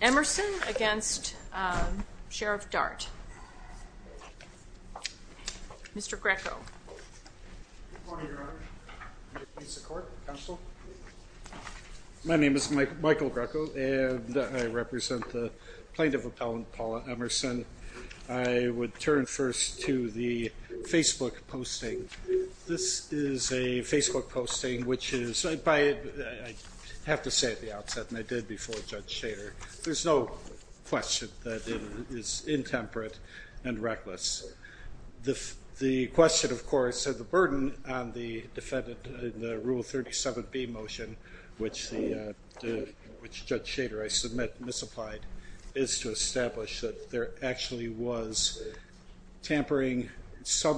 Emerson v. Thomas Dart Michael Greco and I represent the plaintiff appellant Paula Emerson. I would turn first to the Facebook posting. This is a Facebook posting which is, I have to say at the outset, and I did before Judge Shader, there's no question that it is intemperate and reckless. The question, of course, of the burden on the defendant in the Rule 37B motion, which Judge Shader, I submit, misapplied, is to establish that there actually was tampering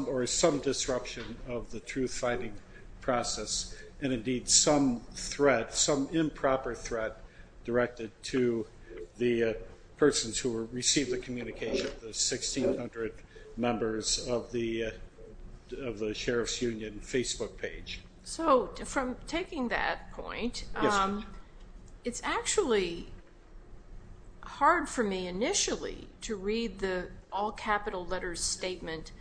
or some disruption of the truth-finding process and indeed some threat, some improper threat directed to the persons who received the communication, the 1,600 members of the Sheriff's Union Facebook page. So from taking that point, it's actually hard for me initially to read the all capital letters statement,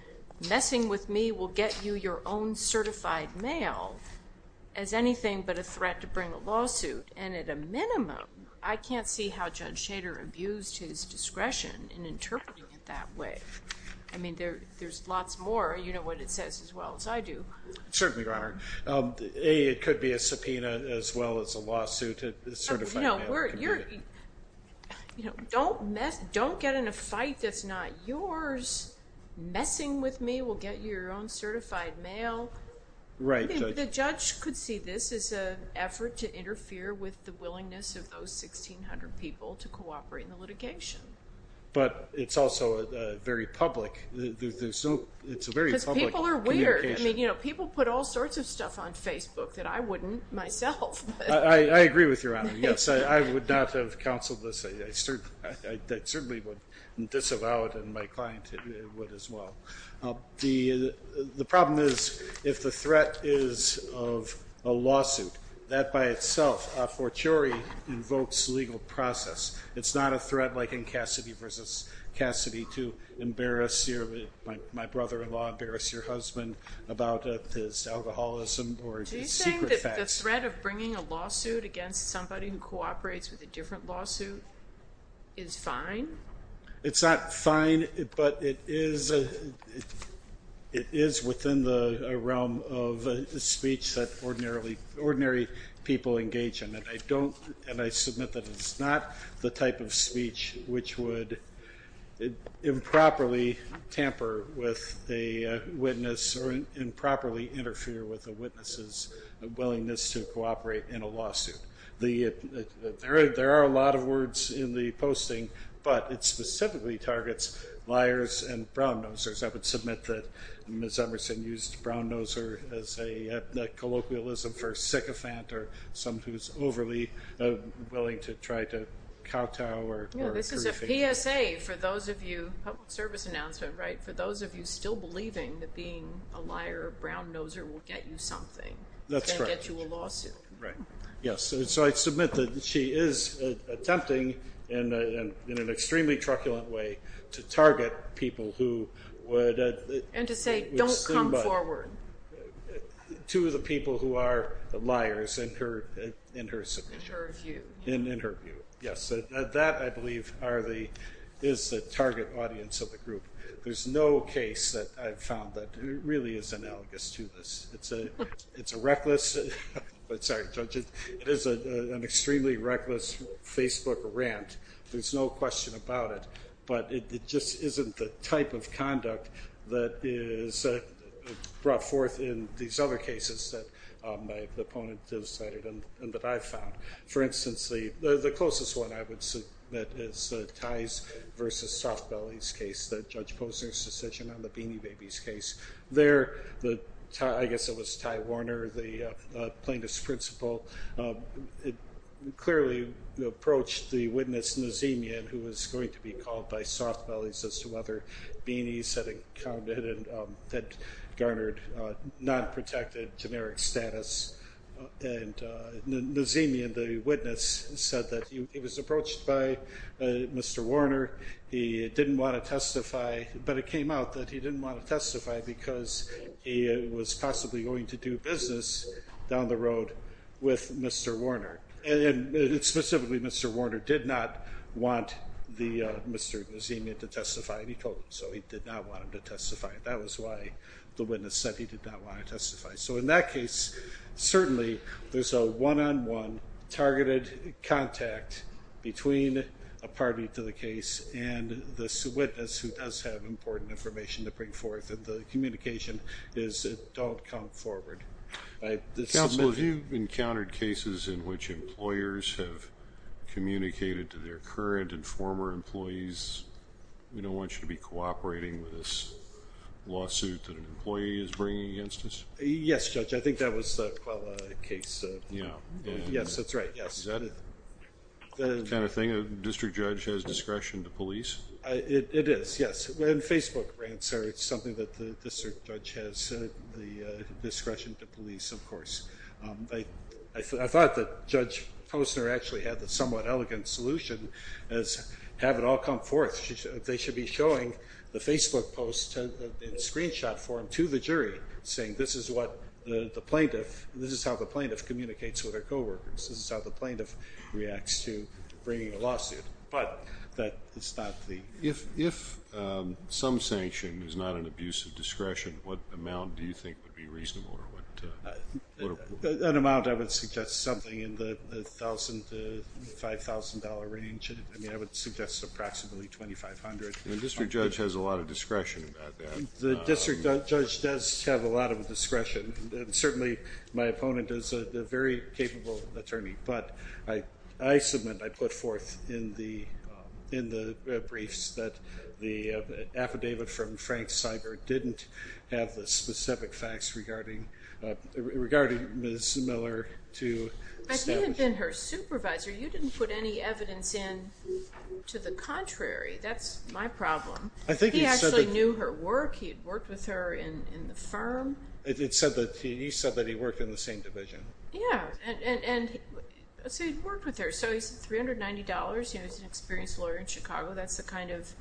that messing with me will get you your own certified mail as anything but a threat to bring a lawsuit. And at a minimum, I can't see how Judge Shader abused his discretion in interpreting it that way. I mean, there's lots more. You know what it says as well as I do. Certainly, Your Honor. A, it could be a subpoena as well as a lawsuit. You know, don't get in a fight that's not yours. Messing with me will get you your own certified mail. Right. The judge could see this as an effort to interfere with the willingness of those 1,600 people to cooperate in the litigation. But it's also very public. It's a very public communication. Because people are weird. I mean, people put all sorts of stuff on Facebook that I wouldn't myself. I agree with you, Your Honor. Yes, I would not have counseled this. I certainly would disavow it, and my client would as well. The problem is if the threat is of a lawsuit, that by itself, a fortiori, invokes legal process. It's not a threat like in Cassidy v. Cassidy to embarrass your my brother-in-law, embarrass your husband about his alcoholism or his secret facts. The threat of bringing a lawsuit against somebody who cooperates with a different lawsuit is fine? It's not fine, but it is within the realm of speech that ordinary people engage in. And I submit that it's not the type of speech which would improperly tamper with a witness or improperly interfere with a witness's willingness to cooperate in a lawsuit. There are a lot of words in the posting, but it specifically targets liars and brown-nosers. I would submit that Ms. Emerson used brown-noser as a colloquialism for a sycophant or someone who is overly willing to try to kowtow or grief. This is a PSA for those of you, public service announcement, right, for those of you still believing that being a liar or brown-noser will get you something. That's right. And get you a lawsuit. Right, yes. And so I submit that she is attempting in an extremely truculent way to target people who would And to say, don't come forward. To the people who are liars in her submission. In her view. In her view, yes. That, I believe, is the target audience of the group. There's no case that I've found that really is analogous to this. It's a reckless, sorry, Judge, it is an extremely reckless Facebook rant. There's no question about it. But it just isn't the type of conduct that is brought forth in these other cases that the opponent has cited and that I've found. For instance, the closest one I would submit is Ty's versus Soft Belly's case, that Judge Posner's decision on the Beanie Babies case. There, I guess it was Ty Warner, the plaintiff's principal, clearly approached the witness, Nazemian, who was going to be called by Soft Belly's as to whether Beanie's had encountered and had garnered non-protected generic status. Nazemian, the witness, said that he was approached by Mr. Warner. He didn't want to testify, but it came out that he didn't want to testify because he was possibly going to do business down the road with Mr. Warner. Specifically, Mr. Warner did not want Mr. Nazemian to testify, and he told him so. He did not want him to testify. That was why the witness said he did not want to testify. So in that case, certainly there's a one-on-one targeted contact between a party to the case and this witness who does have important information to bring forth, and the communication is don't come forward. Counsel, have you encountered cases in which employers have communicated to their current and former employees, we don't want you to be cooperating with this lawsuit that an employee is bringing against us? Yes, Judge. I think that was, well, a case. Yeah. Yes, that's right, yes. Is that the kind of thing, a district judge has discretion to police? It is, yes. When Facebook rants are something that the district judge has the discretion to police, of course. I thought that Judge Posner actually had the somewhat elegant solution as have it all come forth. They should be showing the Facebook post in screenshot form to the jury saying this is what the plaintiff, this is how the plaintiff communicates with her coworkers. This is how the plaintiff reacts to bringing a lawsuit. But that is not the. If some sanction is not an abuse of discretion, what amount do you think would be reasonable? An amount I would suggest something in the $1,000 to $5,000 range. I mean, I would suggest approximately $2,500. The district judge has a lot of discretion about that. The district judge does have a lot of discretion. Certainly, my opponent is a very capable attorney. But I submit, I put forth in the briefs that the affidavit from Frank Seibert didn't have the specific facts regarding Ms. Miller to establish. He had been her supervisor. You didn't put any evidence in to the contrary. That's my problem. He actually knew her work. He had worked with her in the firm. You said that he worked in the same division. Yeah, and so he'd worked with her. So he said $390. He was an experienced lawyer in Chicago. That's the kind of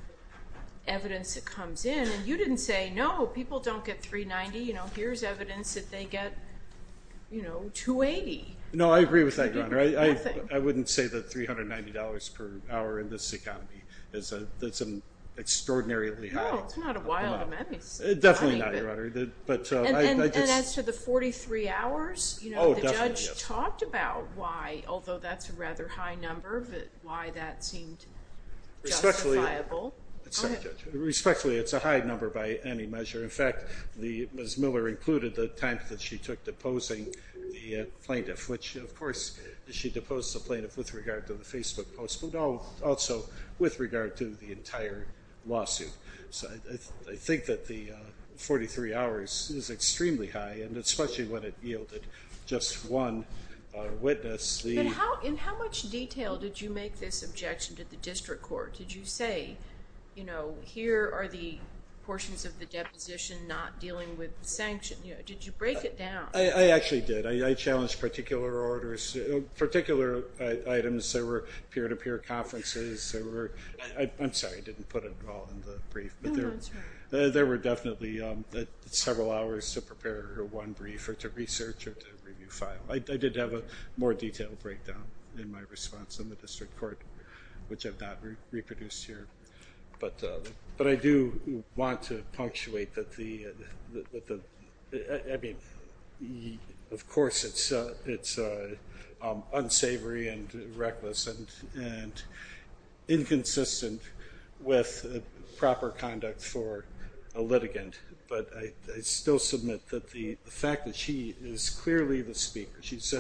evidence that comes in. And you didn't say, no, people don't get $390. Here's evidence that they get $280. No, I agree with that, Your Honor. I wouldn't say that $390 per hour in this economy is extraordinarily high. No, it's not a wild amount. Definitely not, Your Honor. And as to the 43 hours? Oh, definitely. The judge talked about why, although that's a rather high number, why that seemed justifiable. Respectfully, it's a high number by any measure. In fact, Ms. Miller included the time that she took deposing the plaintiff, which, of course, she deposed the plaintiff with regard to the Facebook post, but also with regard to the entire lawsuit. I think that the 43 hours is extremely high, and especially when it yielded just one witness. In how much detail did you make this objection to the district court? Did you say, you know, here are the portions of the deposition not dealing with the sanction? Did you break it down? I actually did. I challenged particular orders, particular items. There were peer-to-peer conferences. I'm sorry I didn't put it all in the brief, but there were definitely several hours to prepare one brief or to research or to review file. I did have a more detailed breakdown in my response in the district court, which I've not reproduced here. But I do want to punctuate that the, I mean, of course, it's unsavory and reckless, and inconsistent with proper conduct for a litigant. But I still submit that the fact that she is clearly the speaker, she's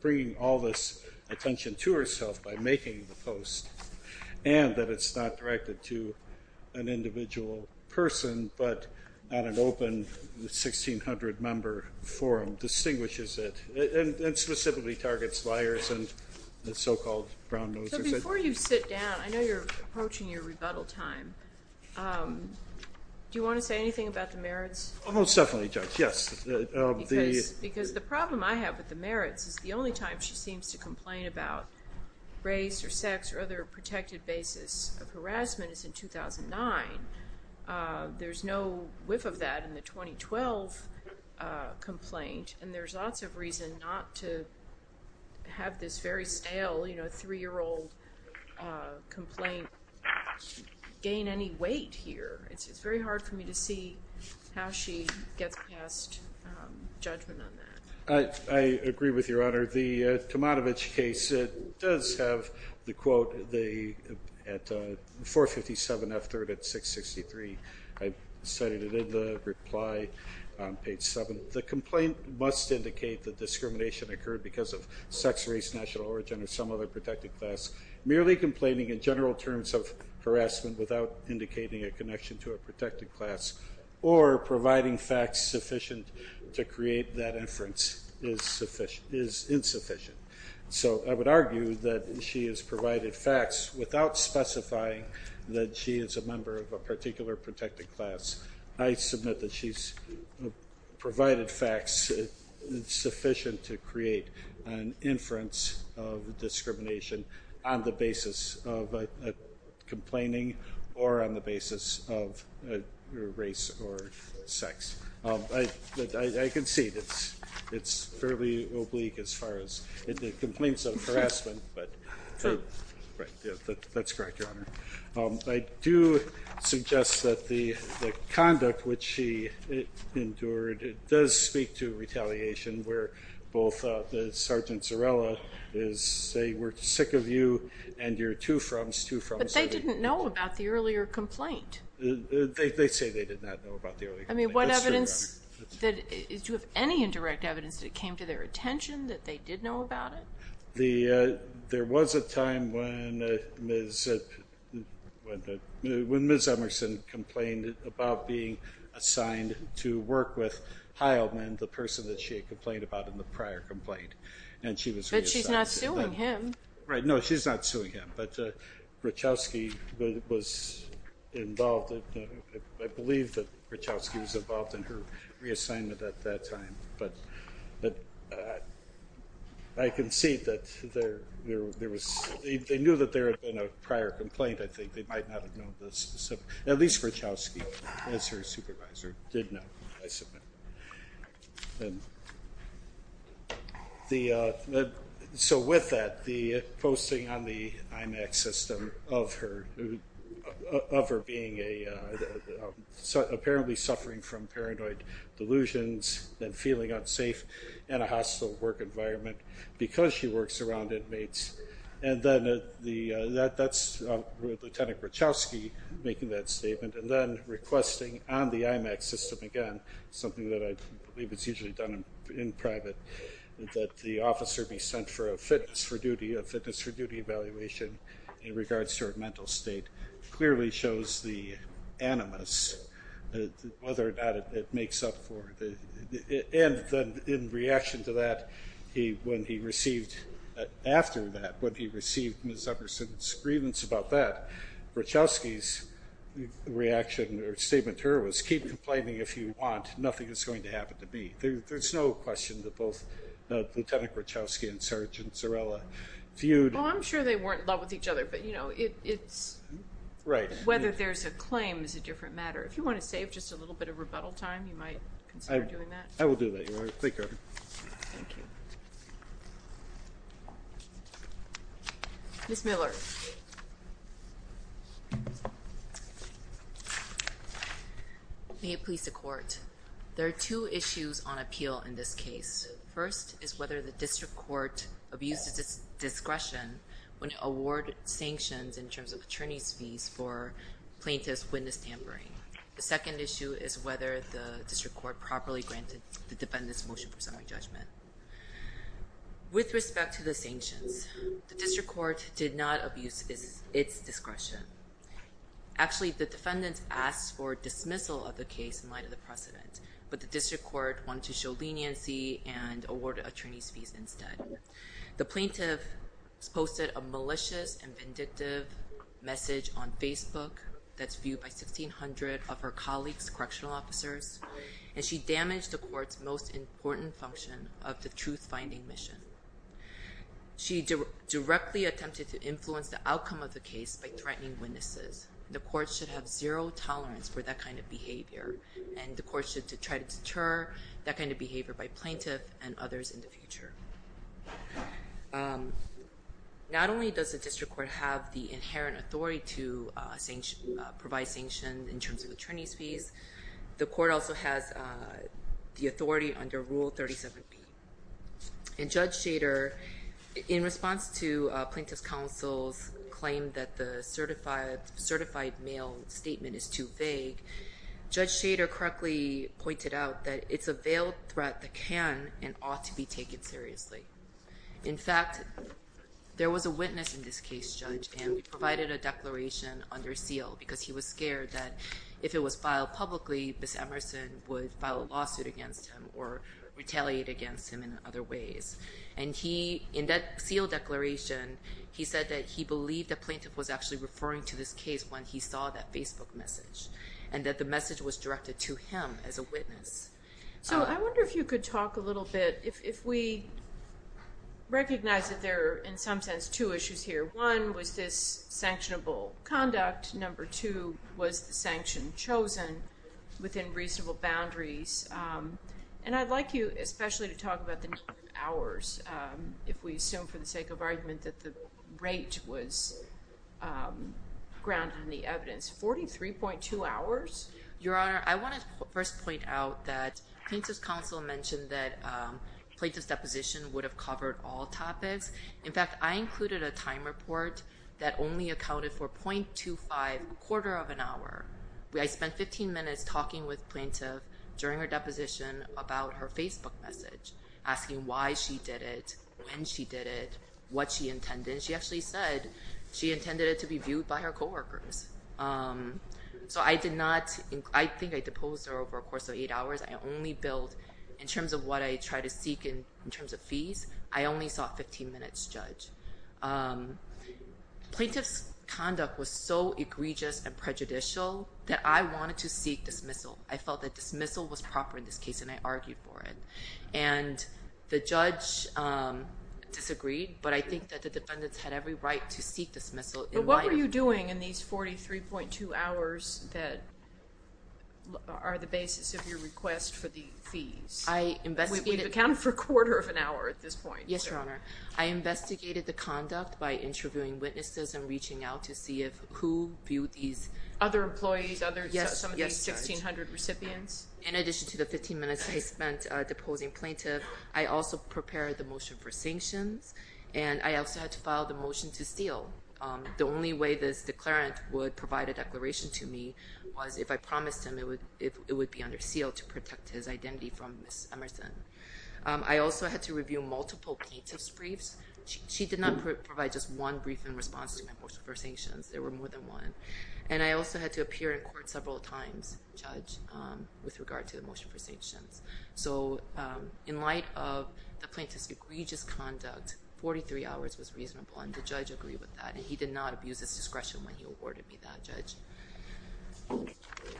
bringing all this attention to herself by making the post, and that it's not directed to an individual person, but on an open 1,600-member forum distinguishes it, and specifically targets liars and the so-called brown nosers. So before you sit down, I know you're approaching your rebuttal time. Do you want to say anything about the merits? Most definitely, Judge, yes. Because the problem I have with the merits is the only time she seems to complain about race or sex or other protected basis of harassment is in 2009. There's no whiff of that in the 2012 complaint, and there's lots of reason not to have this very stale, you know, three-year-old complaint gain any weight here. It's very hard for me to see how she gets past judgment on that. I agree with Your Honor. The Tomatovich case does have the quote at 457 F3rd at 663. I cited it in the reply on page 7. The complaint must indicate that discrimination occurred because of sex, race, national origin, or some other protected class. Merely complaining in general terms of harassment without indicating a connection to a protected class, or providing facts sufficient to create that inference is insufficient. So I would argue that she has provided facts without specifying that she is a member of a particular protected class. I submit that she's provided facts sufficient to create an inference of discrimination on the basis of complaining or on the basis of race or sex. I concede it's fairly oblique as far as the complaints of harassment. That's correct, Your Honor. I do suggest that the conduct which she endured does speak to retaliation, where both Sergeant Zarella is, they were sick of you and your two frums, two frums. But they didn't know about the earlier complaint. They say they did not know about the earlier complaint. I mean, what evidence, do you have any indirect evidence that it came to their attention that they did know about it? There was a time when Ms. Emerson complained about being assigned to work with Heilman, the person that she had complained about in the prior complaint. But she's not suing him. Right. No, she's not suing him. But Rachowski was involved. I believe that Rachowski was involved in her reassignment at that time. But I concede that there was, they knew that there had been a prior complaint, I think. They might not have known this. At least Rachowski, as her supervisor, did know, I submit. So with that, the posting on the IMAX system of her being a, apparently suffering from paranoid delusions and feeling unsafe in a hostile work environment because she works around inmates. And then that's Lieutenant Rachowski making that statement. And then requesting on the IMAX system again, something that I believe is usually done in private, that the officer be sent for a fitness for duty, a fitness for duty evaluation in regards to her mental state, clearly shows the animus, whether or not it makes up for it. And in reaction to that, when he received, after that, when he received Ms. Upperson's grievance about that, Rachowski's reaction or statement to her was, keep complaining if you want, nothing is going to happen to me. There's no question that both Lieutenant Rachowski and Sergeant Zarella viewed. Well, I'm sure they weren't in love with each other, but you know, it's. Right. Whether there's a claim is a different matter. If you want to save just a little bit of rebuttal time, you might consider doing that. I will do that. Thank you. Thank you. Ms. Miller. May it please the court. There are two issues on appeal in this case. First is whether the district court abuses its discretion when award sanctions in terms of attorney's fees for plaintiff's witness tampering. The second issue is whether the district court properly granted the defendants motion for summary judgment. With respect to the sanctions, the district court did not abuse its discretion. Actually, the defendants asked for dismissal of the case in light of the precedent, but the district court wanted to show leniency and award attorney's fees instead. The plaintiff posted a malicious and vindictive message on Facebook that's viewed by 1,600 of her colleagues, correctional officers, and she damaged the court's most important function of the truth-finding mission. She directly attempted to influence the outcome of the case by threatening witnesses. The court should have zero tolerance for that kind of behavior, and the court should try to deter that kind of behavior by plaintiff and others in the future. Not only does the district court have the inherent authority to provide sanctions in terms of attorney's fees, the court also has the authority under Rule 37B. And Judge Shader, in response to plaintiff's counsel's claim that the certified mail statement is too vague, Judge Shader correctly pointed out that it's a veiled threat that can and ought to be taken seriously. In fact, there was a witness in this case, Judge, and we provided a declaration under seal because he was scared that if it was filed publicly, Ms. Emerson would file a lawsuit against him or retaliate against him in other ways. And he, in that sealed declaration, he said that he believed the plaintiff was actually referring to this case when he saw that Facebook message and that the message was directed to him as a witness. So I wonder if you could talk a little bit, if we recognize that there are, in some sense, two issues here. One was this sanctionable conduct. Number two was the sanction chosen within reasonable boundaries. And I'd like you especially to talk about the number of hours, if we assume for the sake of argument, that the rate was grounded in the evidence. 43.2 hours? Your Honor, I want to first point out that plaintiff's counsel mentioned that plaintiff's deposition would have covered all topics. In fact, I included a time report that only accounted for 0.25 quarter of an hour. I spent 15 minutes talking with plaintiff during her deposition about her Facebook message, asking why she did it, when she did it, what she intended. She actually said she intended it to be viewed by her coworkers. So I did not, I think I deposed her over a course of eight hours. I only billed in terms of what I tried to seek in terms of fees. I only sought 15 minutes, Judge. Plaintiff's conduct was so egregious and prejudicial that I wanted to seek dismissal. I felt that dismissal was proper in this case, and I argued for it. And the judge disagreed, but I think that the defendants had every right to seek dismissal. But what were you doing in these 43.2 hours that are the basis of your request for the fees? We've accounted for a quarter of an hour at this point. Yes, Your Honor. I investigated the conduct by interviewing witnesses and reaching out to see who viewed these. Other employees, some of these 1,600 recipients? In addition to the 15 minutes I spent deposing plaintiff, I also prepared the motion for sanctions, and I also had to file the motion to seal. The only way this declarant would provide a declaration to me was if I promised him it would be under seal to protect his identity from Ms. Emerson. I also had to review multiple plaintiff's briefs. She did not provide just one brief in response to my motion for sanctions. There were more than one. And I also had to appear in court several times, Judge, with regard to the motion for sanctions. So in light of the plaintiff's egregious conduct, 43 hours was reasonable, and the judge agreed with that, and he did not abuse his discretion when he awarded me that, Judge.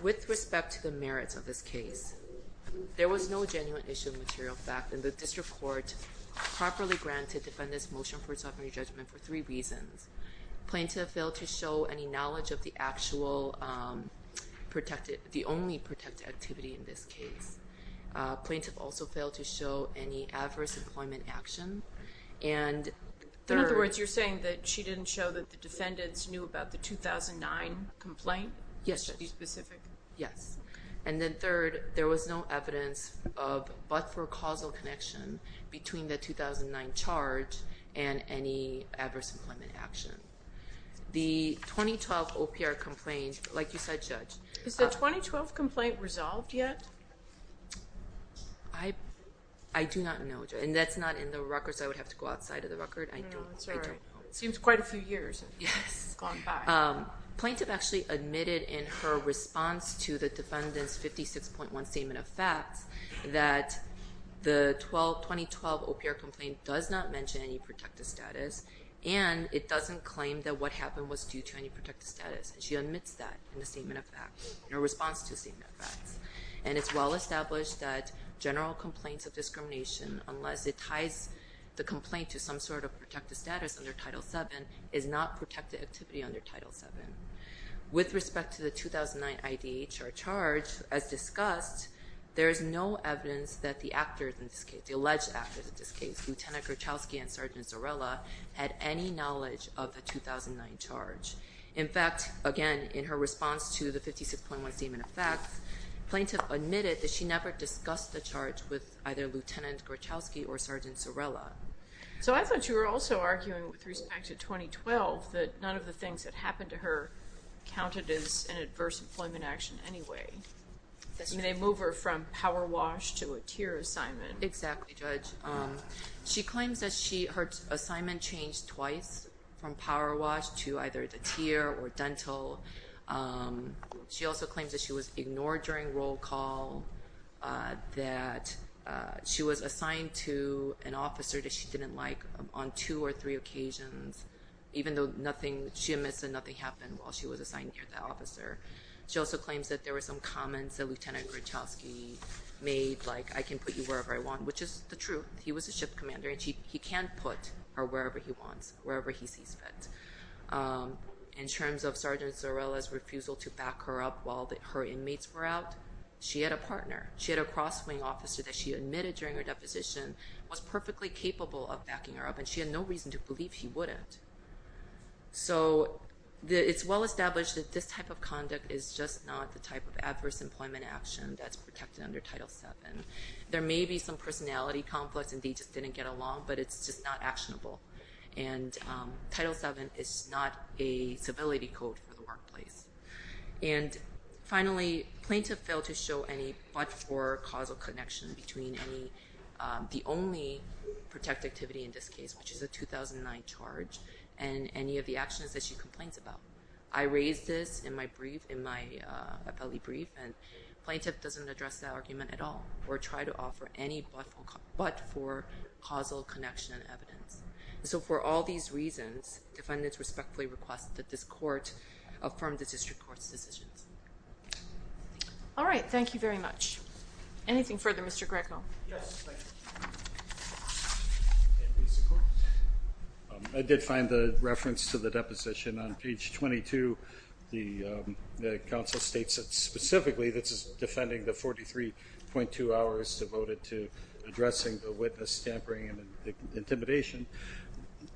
With respect to the merits of this case, there was no genuine issue of material fact, and the district court properly granted defendants' motion for a sovereign judgment for three reasons. Plaintiff failed to show any knowledge of the only protected activity in this case. Plaintiff also failed to show any adverse employment action. In other words, you're saying that she didn't show that the defendants knew about the 2009 complaint? Yes. Are you specific? Yes. And then third, there was no evidence of but for causal connection between the 2009 charge and any adverse employment action. The 2012 OPR complaint, like you said, Judge. Is the 2012 complaint resolved yet? I do not know, Judge, and that's not in the records. I would have to go outside of the record. I don't know. Seems quite a few years has gone by. Plaintiff actually admitted in her response to the defendant's 56.1 Statement of Facts that the 2012 OPR complaint does not mention any protected status, and it doesn't claim that what happened was due to any protected status. She admits that in the Statement of Facts, in her response to the Statement of Facts. And it's well established that general complaints of discrimination, unless it ties the complaint to some sort of protected status under Title VII, is not protected activity under Title VII. With respect to the 2009 IDHR charge, as discussed, there is no evidence that the actors in this case, the alleged actors in this case, Lieutenant Gruchowski and Sergeant Zarella, had any knowledge of the 2009 charge. In fact, again, in her response to the 56.1 Statement of Facts, plaintiff admitted that she never discussed the charge with either Lieutenant Gruchowski or Sergeant Zarella. So I thought you were also arguing, with respect to 2012, that none of the things that happened to her counted as an adverse employment action anyway. They move her from power wash to a tier assignment. Exactly, Judge. She claims that her assignment changed twice, from power wash to either the tier or dental. She also claims that she was ignored during roll call, that she was assigned to an officer that she didn't like on two or three occasions, even though she admits that nothing happened while she was assigned to that officer. She also claims that there were some comments that Lieutenant Gruchowski made, like, I can put you wherever I want, which is the truth. He was a ship commander, and he can put her wherever he wants, wherever he sees fit. In terms of Sergeant Zarella's refusal to back her up while her inmates were out, she had a partner. She had a cross-wing officer that she admitted during her deposition, was perfectly capable of backing her up, and she had no reason to believe he wouldn't. So it's well established that this type of conduct is just not the type of adverse employment action that's protected under Title VII. There may be some personality conflicts, and they just didn't get along, but it's just not actionable. And Title VII is not a civility code for the workplace. And finally, plaintiff failed to show any but-for causal connection between the only protected activity in this case, which is a 2009 charge, and any of the actions that she complains about. I raised this in my brief, in my appellee brief, and plaintiff doesn't address that argument at all or try to offer any but-for causal connection evidence. So for all these reasons, defendants respectfully request that this court affirm the district court's decisions. All right, thank you very much. Anything further, Mr. Greco? Yes, thank you. I did find the reference to the deposition on page 22. The counsel states that specifically this is defending the 43.2 hours devoted to addressing the witness, tampering, and intimidation.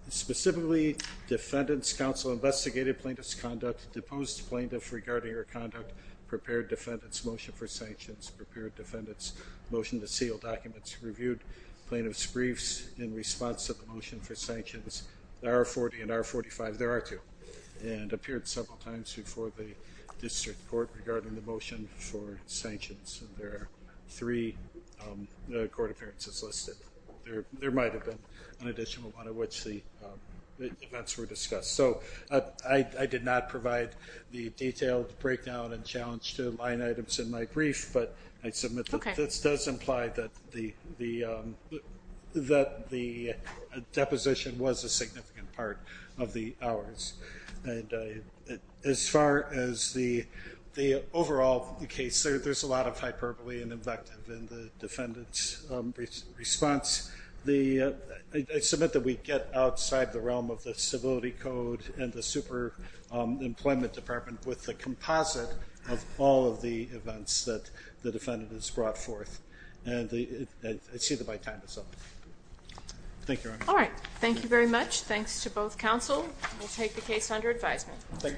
Specifically, defendant's counsel investigated plaintiff's conduct, deposed plaintiff regarding her conduct, prepared defendant's motion for sanctions, prepared defendant's motion to seal documents reviewed, plaintiff's briefs in response to the motion for sanctions. The R40 and R45, there are two, and appeared several times before the district court regarding the motion for sanctions. There are three court appearances listed. There might have been an additional one in which the events were discussed. So I did not provide the detailed breakdown and challenge to line items in my brief, but I submit that this does imply that the deposition was a significant part of the hours. As far as the overall case, there's a lot of hyperbole and invective in the defendant's response. I submit that we get outside the realm of the civility code and the super employment department with the composite of all of the events that the defendant has brought forth. And I see that my time is up. Thank you, Your Honor. All right. Thank you very much. Thanks to both counsel. We'll take the case under advisement.